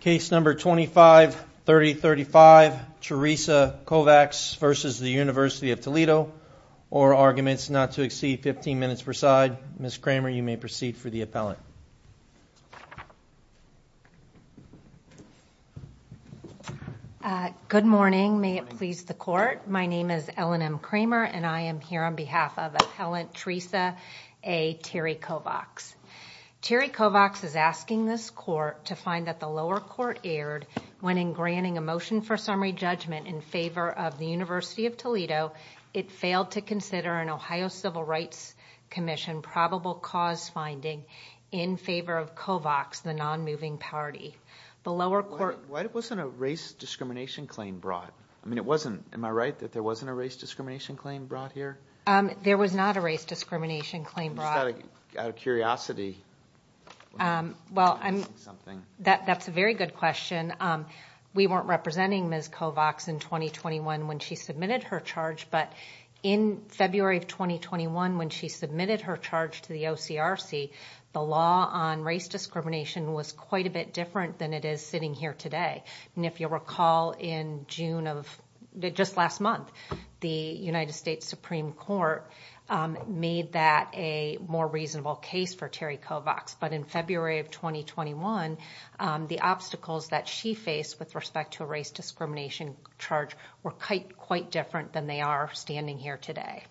Case number 25-3035, Theresa Kovacs v. University of Toledo Or arguments not to exceed 15 minutes per side Ms. Kramer, you may proceed for the appellant Good morning, may it please the court My name is Ellen M. Kramer and I am here on behalf of Appellant Theresa A. Terry Kovacs Terry Kovacs is asking this court to find that the lower court erred when in granting a motion for summary judgment in favor of the University of Toledo it failed to consider an Ohio Civil Rights Commission probable cause finding in favor of Kovacs, the non-moving party Why wasn't a race discrimination claim brought? I mean, am I right that there wasn't a race discrimination claim brought here? There was not a race discrimination claim brought Out of curiosity Well, that's a very good question We weren't representing Ms. Kovacs in 2021 when she submitted her charge but in February of 2021 when she submitted her charge to the OCRC the law on race discrimination was quite a bit different than it is sitting here today And if you'll recall in June of, just last month the United States Supreme Court made that a more reasonable case for Terry Kovacs But in February of 2021, the obstacles that she faced with respect to a race discrimination charge were quite different than they are standing here today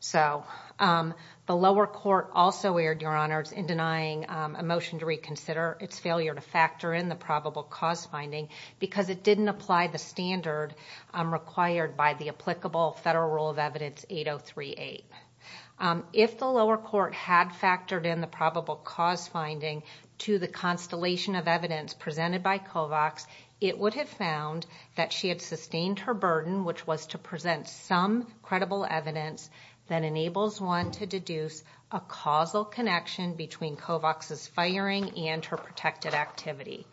So, the lower court also erred, Your Honors, in denying a motion to reconsider its failure to factor in the probable cause finding because it didn't apply the standard required by the applicable federal rule of evidence 8038 If the lower court had factored in the probable cause finding to the constellation of evidence presented by Kovacs it would have found that she had sustained her burden which was to present some credible evidence that enables one to deduce a causal connection between Kovacs' firing and her protected activity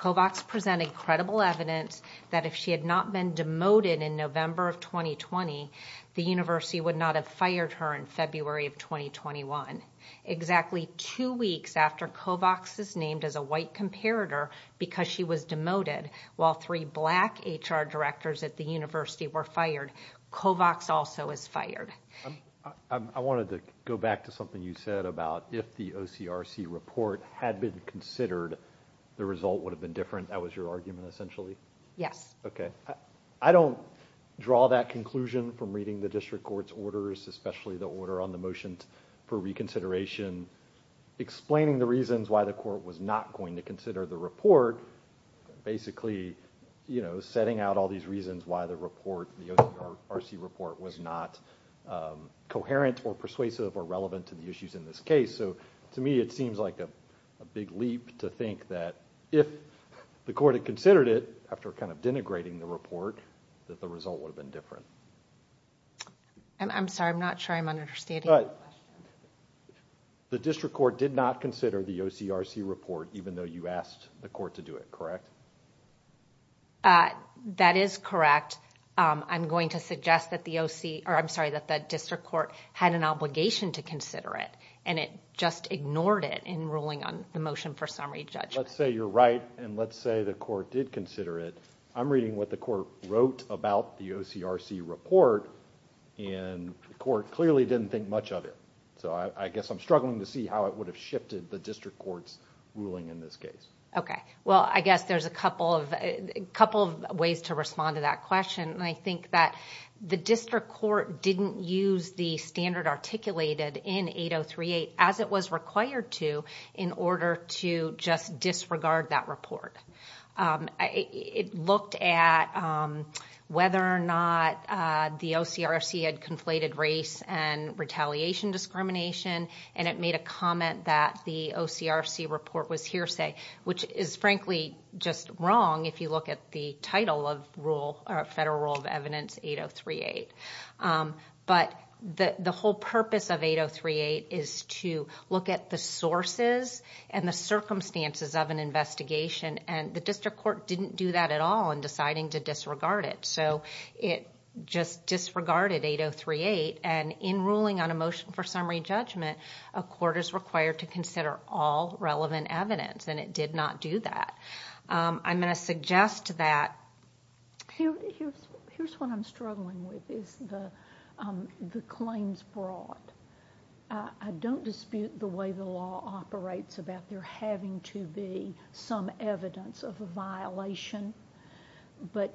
Kovacs presented credible evidence that if she had not been demoted in November of 2020 the university would not have fired her in February of 2021 Exactly two weeks after Kovacs is named as a white comparator because she was demoted while three black HR directors at the university were fired Kovacs also is fired I wanted to go back to something you said about if the OCRC report had been considered, the result would have been different That was your argument essentially? Yes Okay I don't draw that conclusion from reading the district court's orders especially the order on the motions for reconsideration explaining the reasons why the court was not going to consider the report basically, you know, setting out all these reasons why the report the OCRC report was not coherent or persuasive or relevant to the issues in this case so to me it seems like a big leap to think that if the court had considered it after kind of denigrating the report that the result would have been different I'm sorry, I'm not sure I'm understanding your question The district court did not consider the OCRC report even though you asked the court to do it, correct? That is correct I'm going to suggest that the district court had an obligation to consider it and it just ignored it in ruling on the motion for summary judgment Let's say you're right and let's say the court did consider it I'm reading what the court wrote about the OCRC report and the court clearly didn't think much of it so I guess I'm struggling to see how it would have shifted the district court's ruling in this case Okay, well I guess there's a couple of ways to respond to that question and I think that the district court didn't use the standard articulated in 8038 as it was required to in order to just disregard that report It looked at whether or not the OCRC had conflated race and retaliation discrimination and it made a comment that the OCRC report was hearsay which is frankly just wrong if you look at the title of Federal Rule of Evidence 8038 but the whole purpose of 8038 is to look at the sources and the circumstances of an investigation and the district court didn't do that at all in deciding to disregard it so it just disregarded 8038 and in ruling on a motion for summary judgment a court is required to consider all relevant evidence and it did not do that I'm going to suggest that Here's what I'm struggling with is the claims brought I don't dispute the way the law operates about there having to be some evidence of a violation but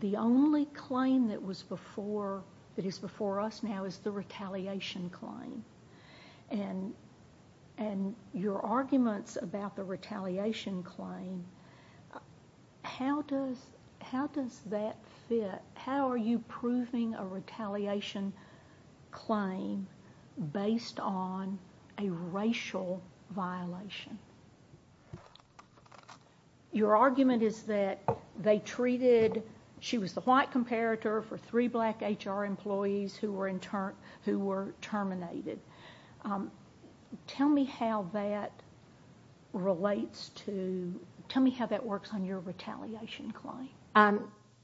the only claim that is before us now is the retaliation claim and your arguments about the retaliation claim how does that fit? How are you proving a retaliation claim based on a racial violation? Your argument is that she was the white comparator for three black HR employees who were terminated Tell me how that works on your retaliation claim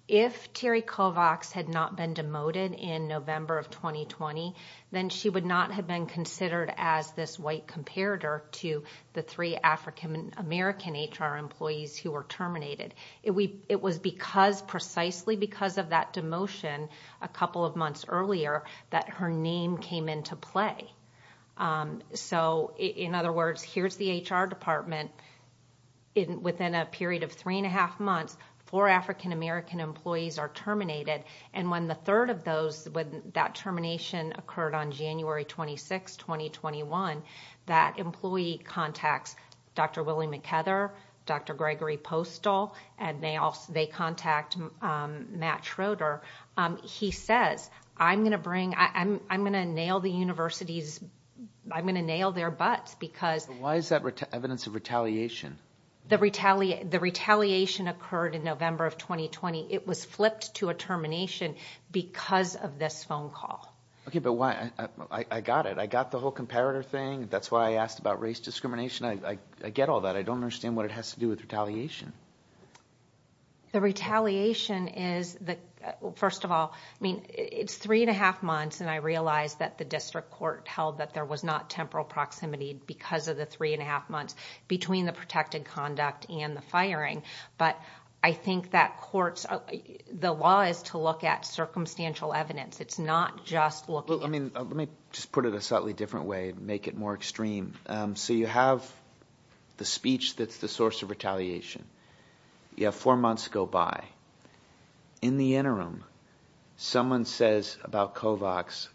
If Terry Kovacs had not been demoted in November of 2020 then she would not have been considered as this white comparator to the three African-American HR employees who were terminated It was precisely because of that demotion a couple of months earlier that her name came into play In other words, here's the HR department within a period of three and a half months four African-American employees are terminated and when that termination occurred on January 26, 2021 that employee contacts Dr. Willie McKeather, Dr. Gregory Postal and they contact Matt Schroeder He says, I'm going to nail the universities I'm going to nail their butts Why is that evidence of retaliation? The retaliation occurred in November of 2020 It was flipped to a termination because of this phone call I got it. I got the whole comparator thing That's why I asked about race discrimination I get all that. I don't understand what it has to do with retaliation The retaliation is three and a half months and I realized that the district court held that there was not temporal proximity because of the three and a half months between the protected conduct and the firing The law is to look at circumstantial evidence It's not just looking at... Let me just put it a slightly different way Make it more extreme So you have the speech that's the source of retaliation You have four months go by In the interim, someone says about Kovacs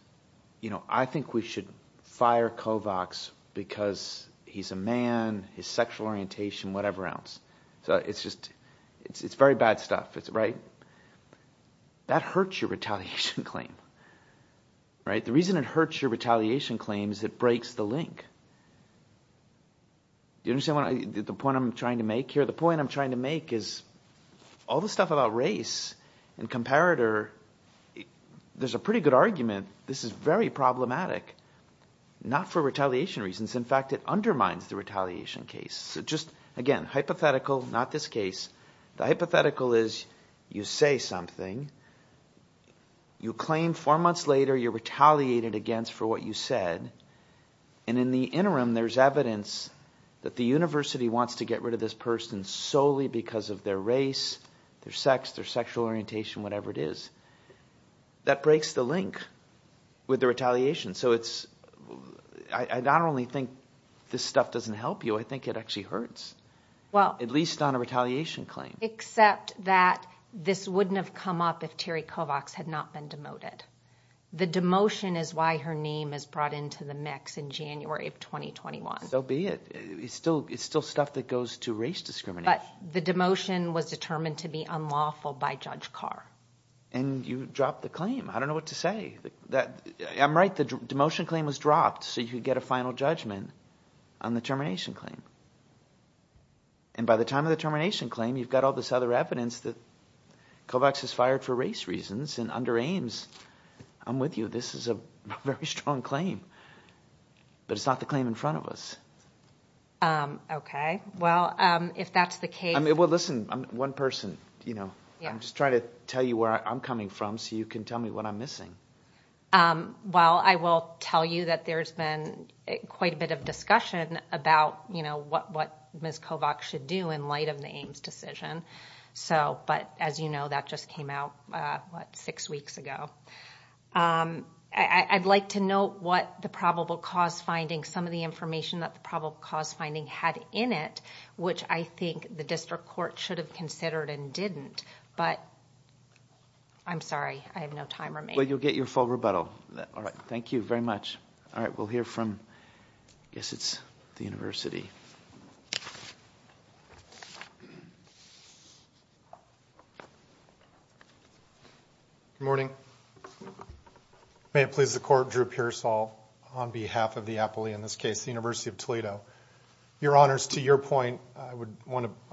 I think we should fire Kovacs because he's a man his sexual orientation, whatever else It's very bad stuff, right? That hurts your retaliation claim The reason it hurts your retaliation claim is it breaks the link Do you understand the point I'm trying to make here? The point I'm trying to make is All the stuff about race and comparator There's a pretty good argument This is very problematic Not for retaliation reasons In fact, it undermines the retaliation case Again, hypothetical, not this case The hypothetical is you say something You claim four months later you're retaliated against for what you said And in the interim, there's evidence that the university wants to get rid of this person solely because of their race their sex, their sexual orientation, whatever it is That breaks the link with the retaliation So I not only think this stuff doesn't help you I think it actually hurts At least on a retaliation claim Except that this wouldn't have come up if Terry Kovacs had not been demoted The demotion is why her name is brought into the mix in January of 2021 So be it It's still stuff that goes to race discrimination But the demotion was determined to be unlawful by Judge Carr And you dropped the claim I don't know what to say I'm right, the demotion claim was dropped So you could get a final judgment on the termination claim And by the time of the termination claim You've got all this other evidence that Kovacs is fired for race reasons And under Ames, I'm with you This is a very strong claim But it's not the claim in front of us Okay, well, if that's the case Well, listen, I'm one person I'm just trying to tell you where I'm coming from So you can tell me what I'm missing Well, I will tell you that there's been quite a bit of discussion About, you know, what Ms. Kovacs should do in light of the Ames decision So, but as you know, that just came out, what, six weeks ago I'd like to know what the probable cause finding Some of the information that the probable cause finding had in it Which I think the district court should have considered and didn't But, I'm sorry, I have no time remaining Well, you'll get your full rebuttal All right, thank you very much All right, we'll hear from, I guess it's the university Good morning May it please the court, Drew Pearsall On behalf of the Apolle, in this case, the University of Toledo Your honors, to your point I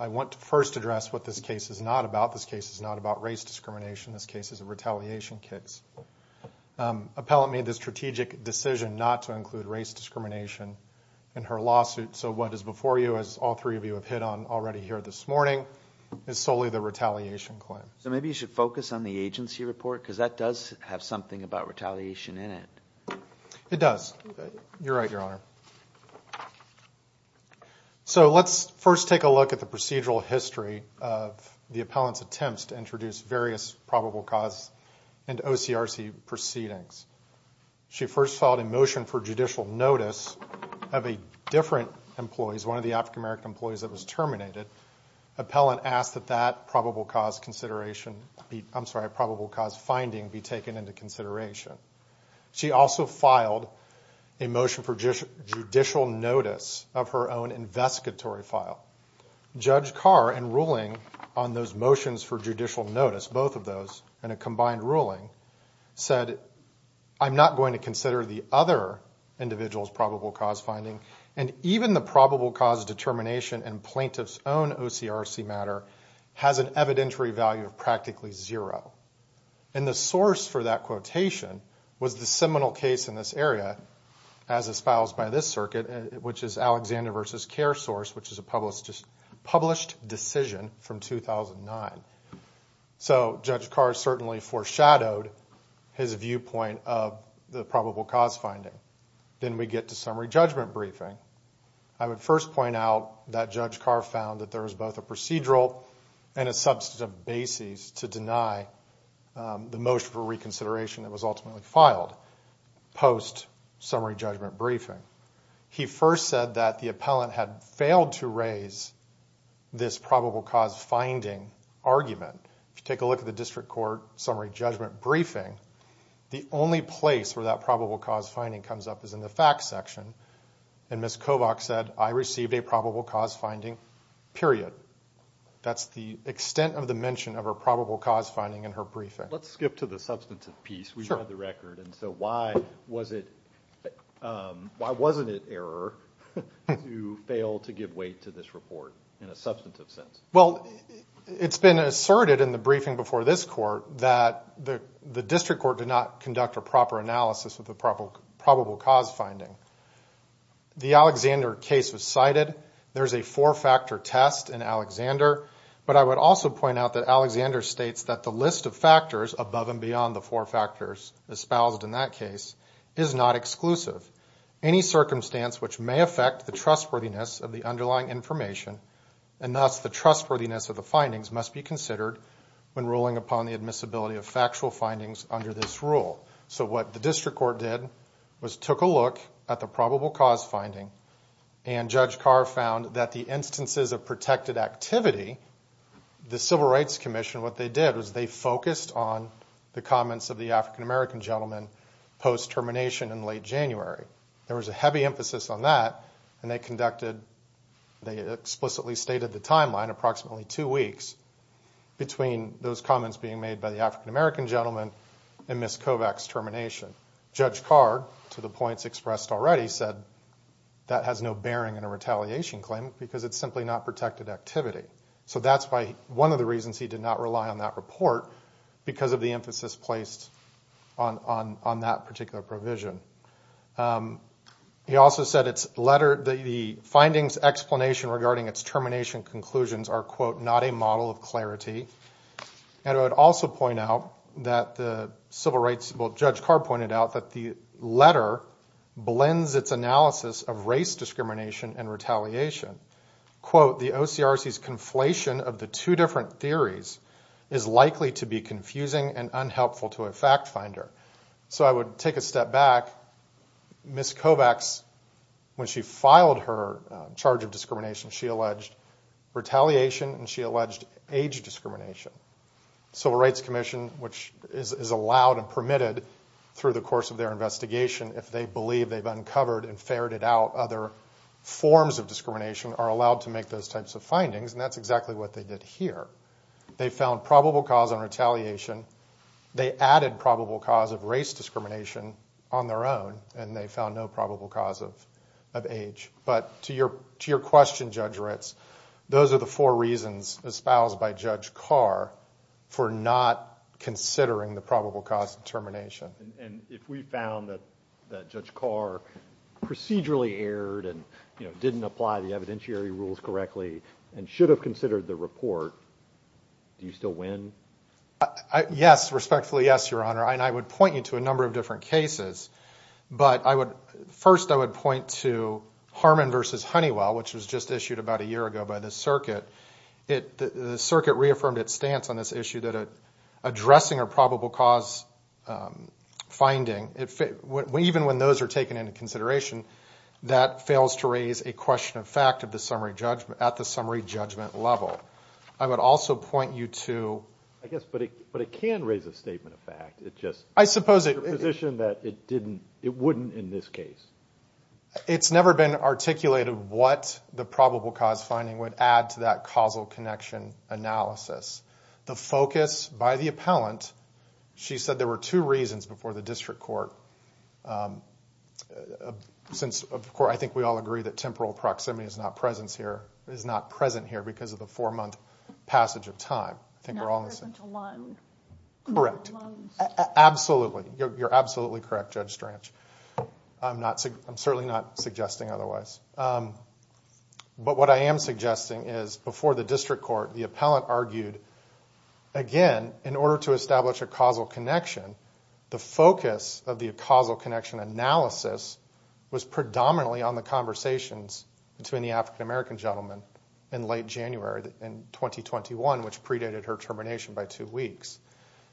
want to first address what this case is not about This case is not about race discrimination This case is a retaliation case Appellant made the strategic decision not to include race discrimination In her lawsuit So what is before you, as all three of you have hit on already here this morning Is solely the retaliation claim So maybe you should focus on the agency report Because that does have something about retaliation in it It does You're right, your honor So let's first take a look at the procedural history Of the appellant's attempts to introduce various probable cause and OCRC proceedings She first filed a motion for judicial notice Of a different employee, one of the African American employees that was terminated Appellant asked that that probable cause finding be taken into consideration She also filed a motion for judicial notice of her own investigatory file Judge Carr, in ruling on those motions for judicial notice Both of those, in a combined ruling Said, I'm not going to consider the other individual's probable cause finding And even the probable cause determination in plaintiff's own OCRC matter Has an evidentiary value of practically zero And the source for that quotation was the seminal case in this area As espoused by this circuit Which is Alexander v. CareSource, which is a published decision from 2009 So Judge Carr certainly foreshadowed his viewpoint of the probable cause finding Then we get to summary judgment briefing I would first point out that Judge Carr found that there was both a procedural And a substantive basis to deny the motion for reconsideration That was ultimately filed post-summary judgment briefing He first said that the appellant had failed to raise this probable cause finding argument If you take a look at the district court summary judgment briefing The only place where that probable cause finding comes up is in the facts section And Ms. Kovach said, I received a probable cause finding, period That's the extent of the mention of a probable cause finding in her briefing Let's skip to the substantive piece So why wasn't it error to fail to give weight to this report in a substantive sense? Well, it's been asserted in the briefing before this court That the district court did not conduct a proper analysis of the probable cause finding The Alexander case was cited, there's a four-factor test in Alexander But I would also point out that Alexander states that the list of factors Above and beyond the four factors espoused in that case is not exclusive Any circumstance which may affect the trustworthiness of the underlying information And thus the trustworthiness of the findings must be considered When ruling upon the admissibility of factual findings under this rule So what the district court did was took a look at the probable cause finding And Judge Carr found that the instances of protected activity The Civil Rights Commission, what they did was they focused on the comments Of the African-American gentleman post-termination in late January There was a heavy emphasis on that and they conducted They explicitly stated the timeline, approximately two weeks Between those comments being made by the African-American gentleman And Ms. Kovach's termination Judge Carr, to the points expressed already, said that has no bearing On a retaliation claim because it's simply not protected activity So that's one of the reasons he did not rely on that report Because of the emphasis placed on that particular provision He also said the findings explanation regarding its termination conclusions Are quote, not a model of clarity And I would also point out that the civil rights, well Judge Carr pointed out That the letter blends its analysis of race discrimination and retaliation Quote, the OCRC's conflation of the two different theories Is likely to be confusing and unhelpful to a fact finder So I would take a step back, Ms. Kovach's, when she filed her charge of discrimination She alleged retaliation and she alleged age discrimination Civil Rights Commission, which is allowed and permitted Through the course of their investigation If they believe they've uncovered and ferreted out other forms of discrimination Are allowed to make those types of findings And that's exactly what they did here They found probable cause on retaliation They added probable cause of race discrimination on their own And they found no probable cause of age But to your question, Judge Ritz Those are the four reasons espoused by Judge Carr For not considering the probable cause determination And if we found that Judge Carr procedurally erred And didn't apply the evidentiary rules correctly And should have considered the report Do you still win? Yes, respectfully yes, Your Honor And I would point you to a number of different cases But first I would point to Harmon v. Honeywell Which was just issued about a year ago by the circuit The circuit reaffirmed its stance on this issue That addressing a probable cause finding Even when those are taken into consideration That fails to raise a question of fact at the summary judgment level I would also point you to I guess, but it can raise a statement of fact It's just your position that it wouldn't in this case It's never been articulated what the probable cause finding Would add to that causal connection analysis The focus by the appellant She said there were two reasons before the district court Since, of course, I think we all agree That temporal proximity is not present here Because of the four-month passage of time Not present alone Correct, absolutely You're absolutely correct, Judge Strach I'm certainly not suggesting otherwise But what I am suggesting is before the district court The appellant argued Again, in order to establish a causal connection The focus of the causal connection analysis Was predominantly on the conversations Between the African-American gentleman In late January in 2021 Which predated her termination by two weeks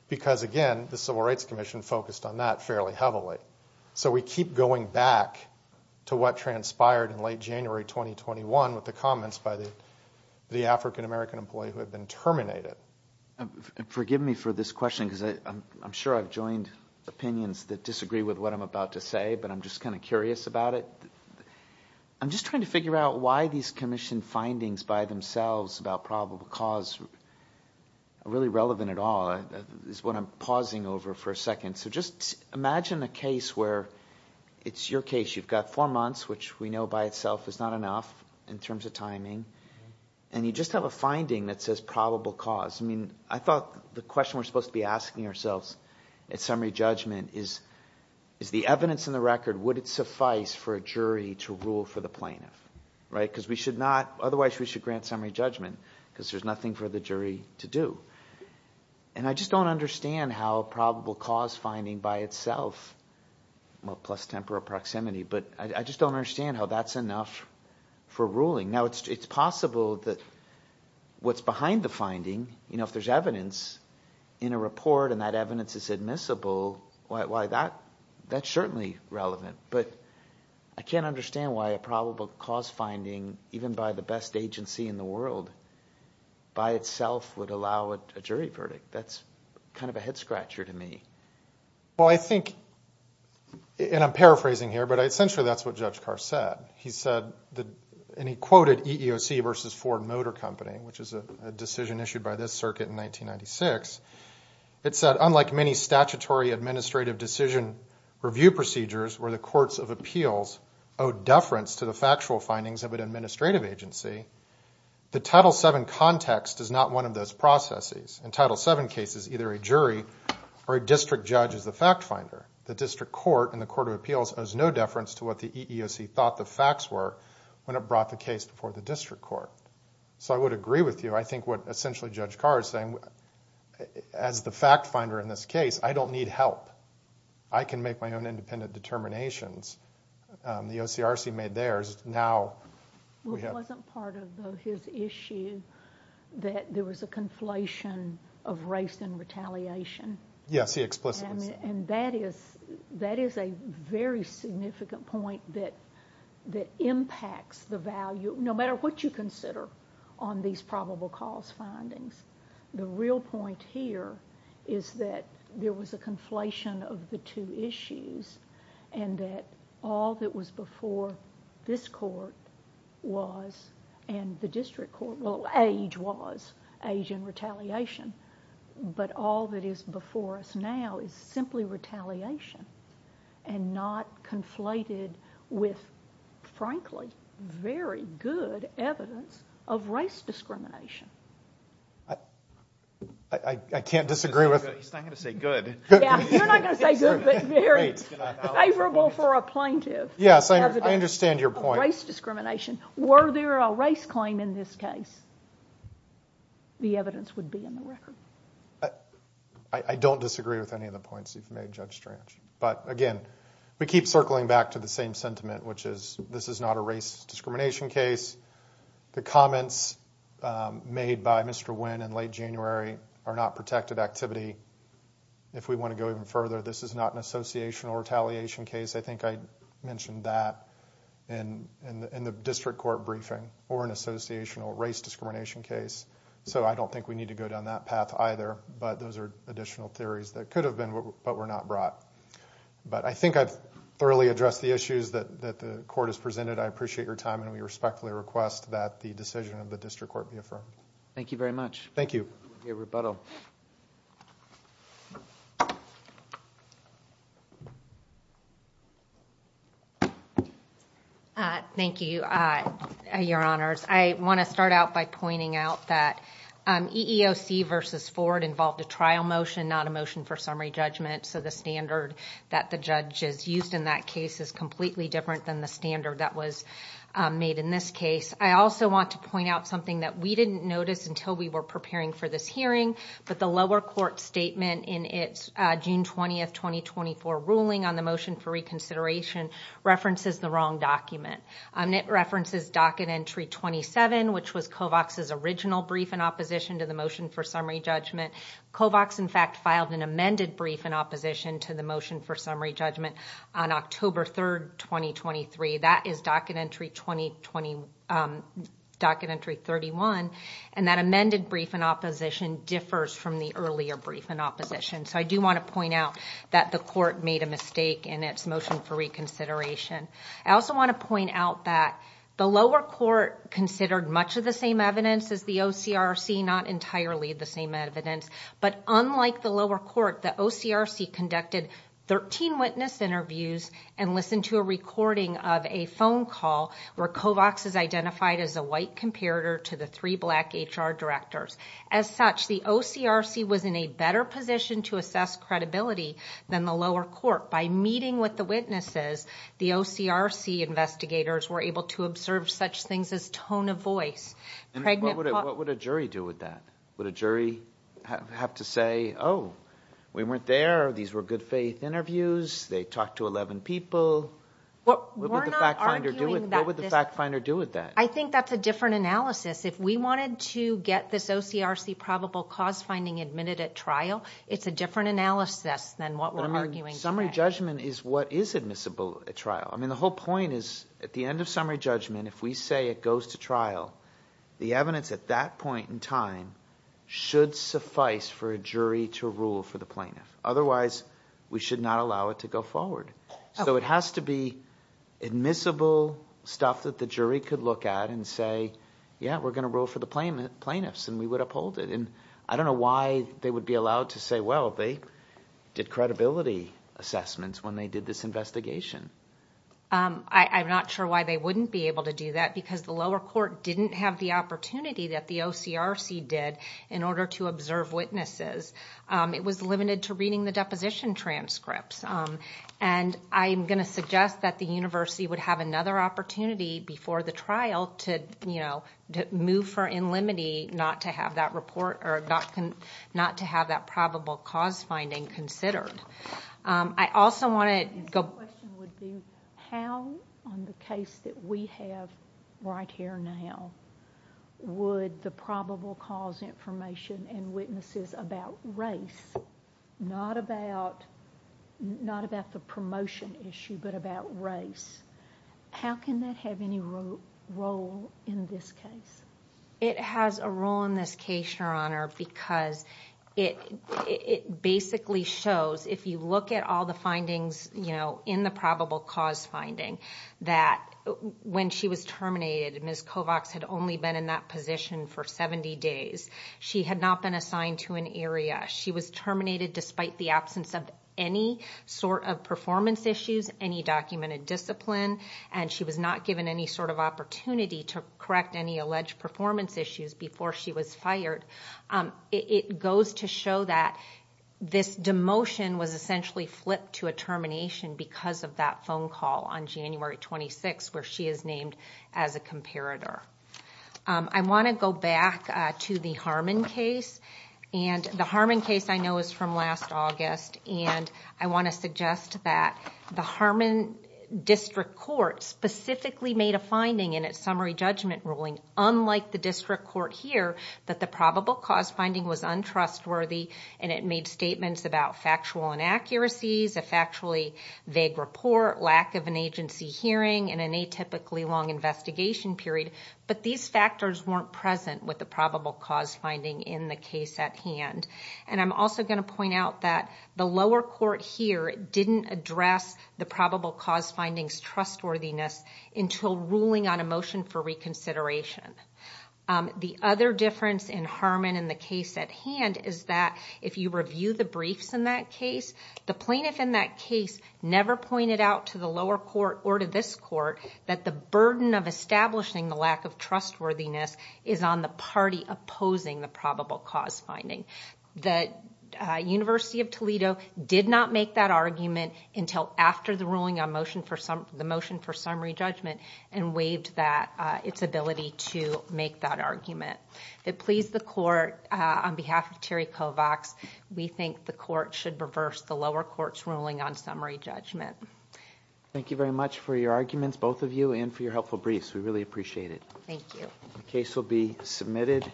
Because, again, the Civil Rights Commission Has been focused on that fairly heavily So we keep going back to what transpired In late January 2021 With the comments by the African-American employee Who had been terminated Forgive me for this question Because I'm sure I've joined opinions That disagree with what I'm about to say But I'm just kind of curious about it I'm just trying to figure out Why these commission findings by themselves About probable cause Are really relevant at all This is what I'm pausing over for a second So just imagine a case where It's your case You've got four months Which we know by itself is not enough In terms of timing And you just have a finding that says probable cause I mean, I thought the question we're supposed to be asking ourselves At summary judgment is Is the evidence in the record Would it suffice for a jury to rule for the plaintiff? Right? Because we should not Otherwise we should grant summary judgment Because there's nothing for the jury to do And I just don't understand how Probable cause finding by itself Well, plus temporal proximity But I just don't understand how that's enough For ruling Now, it's possible that What's behind the finding You know, if there's evidence In a report and that evidence is admissible Why, that's certainly relevant But I can't understand why A probable cause finding Even by the best agency in the world By itself would allow a jury verdict That's kind of a head scratcher to me Well, I think And I'm paraphrasing here But essentially that's what Judge Carr said He said And he quoted EEOC versus Ford Motor Company Which is a decision issued by this circuit in 1996 It said, unlike many statutory administrative decision Review procedures where the courts of appeals Owe deference to the factual findings of an administrative agency The Title VII context is not one of those processes In Title VII cases, either a jury Or a district judge is the fact finder The district court in the court of appeals Owes no deference to what the EEOC thought the facts were When it brought the case before the district court So I would agree with you I think what essentially Judge Carr is saying As the fact finder in this case I don't need help I can make my own independent determinations The OCRC made theirs It wasn't part of his issue That there was a conflation of race and retaliation Yes, he explicitly said that And that is a very significant point That impacts the value No matter what you consider On these probable cause findings The real point here Is that there was a conflation of the two issues And that all that was before This court was And the district court Well, age was Age and retaliation But all that is before us now Is simply retaliation And not conflated with Frankly Very good evidence Of race discrimination I can't disagree with He's not going to say good You're not going to say good Favorable for a plaintiff Yes, I understand your point Race discrimination Were there a race claim in this case The evidence would be in the record I don't disagree with any of the points You've made, Judge Strange But again We keep circling back to the same sentiment Which is This is not a race discrimination case The comments Made by Mr. Wynn in late January Are not protected activity If we want to go even further This is not an associational retaliation case I think I mentioned that In the district court briefing Or an associational race discrimination case So I don't think we need to go down that path either But those are additional theories That could have been, but were not brought But I think I've thoroughly addressed the issues That the court has presented I appreciate your time And we respectfully request That the decision of the district court be affirmed Thank you very much Thank you Rebuttal Thank you Your honors I want to start out by pointing out that EEOC versus Ford involved a trial motion Not a motion for summary judgment So the standard that the judges used in that case Is completely different than the standard That was made in this case I also want to point out something That we didn't notice Until we were preparing for this hearing But the lower court statement In its June 20, 2024 ruling On the motion for reconsideration References the wrong document And it references docket entry 27 Which was Kovacs' original brief in opposition To the motion for summary judgment Kovacs, in fact, filed an amended brief In opposition to the motion for summary judgment On October 3, 2023 That is docket entry 31 And that amended brief in opposition Differs from the earlier brief in opposition So I do want to point out That the court made a mistake In its motion for reconsideration I also want to point out that The lower court considered much of the same evidence As the OCRC Not entirely the same evidence But unlike the lower court The OCRC conducted 13 witness interviews And listened to a recording of a phone call Where Kovacs is identified as a white comparator To the three black HR directors As such, the OCRC was in a better position To assess credibility than the lower court By meeting with the witnesses The OCRC investigators were able to observe Such things as tone of voice What would a jury do with that? Would a jury have to say Oh, we weren't there These were good faith interviews They talked to 11 people What would the fact finder do with that? I think that's a different analysis If we wanted to get this OCRC Probable cause finding admitted at trial It's a different analysis Than what we're arguing today Summary judgment is what is admissible at trial The whole point is At the end of summary judgment If we say it goes to trial The evidence at that point in time Should suffice for a jury to rule for the plaintiff Otherwise, we should not allow it to go forward So it has to be admissible stuff That the jury could look at and say Yeah, we're going to rule for the plaintiffs And we would uphold it I don't know why they would be allowed to say Well, they did credibility assessments When they did this investigation I'm not sure why they wouldn't be able to do that Because the lower court didn't have the opportunity That the OCRC did In order to observe witnesses It was limited to reading the deposition transcripts And I'm going to suggest that the university Would have another opportunity before the trial To move for in limitee Not to have that probable cause finding considered I also want to go... My question would be How on the case that we have right here now Would the probable cause information And witnesses about race Not about the promotion issue How can that have any role in this case? It has a role in this case, Your Honor Because it basically shows If you look at all the findings In the probable cause finding That when she was terminated Ms. Kovacs had only been in that position for 70 days She had not been assigned to an area She was terminated despite the absence of Any sort of performance issues Any documented discipline And she was not given any sort of opportunity To correct any alleged performance issues Before she was fired It goes to show that This demotion was essentially flipped to a termination Because of that phone call on January 26th Where she is named as a comparator I want to go back to the Harmon case And the Harmon case I know is from last August And I want to suggest that The Harmon District Court Specifically made a finding in its summary judgment ruling Unlike the District Court here That the probable cause finding was untrustworthy And it made statements about factual inaccuracies A factually vague report Lack of an agency hearing And an atypically long investigation period But these factors weren't present With the probable cause finding in the case at hand And I'm also going to point out that The lower court here didn't address The probable cause finding's trustworthiness Until ruling on a motion for reconsideration The other difference in Harmon and the case at hand Is that if you review the briefs in that case The plaintiff in that case never pointed out To the lower court or to this court That the burden of establishing the lack of trustworthiness Is on the party opposing the probable cause finding The University of Toledo did not make that argument Until after the ruling on the motion for summary judgment And waived its ability to make that argument It pleased the court On behalf of Terry Kovacs We think the court should reverse The lower court's ruling on summary judgment Thank you very much for your arguments Both of you and for your helpful briefs We really appreciate it Thank you The case will be submitted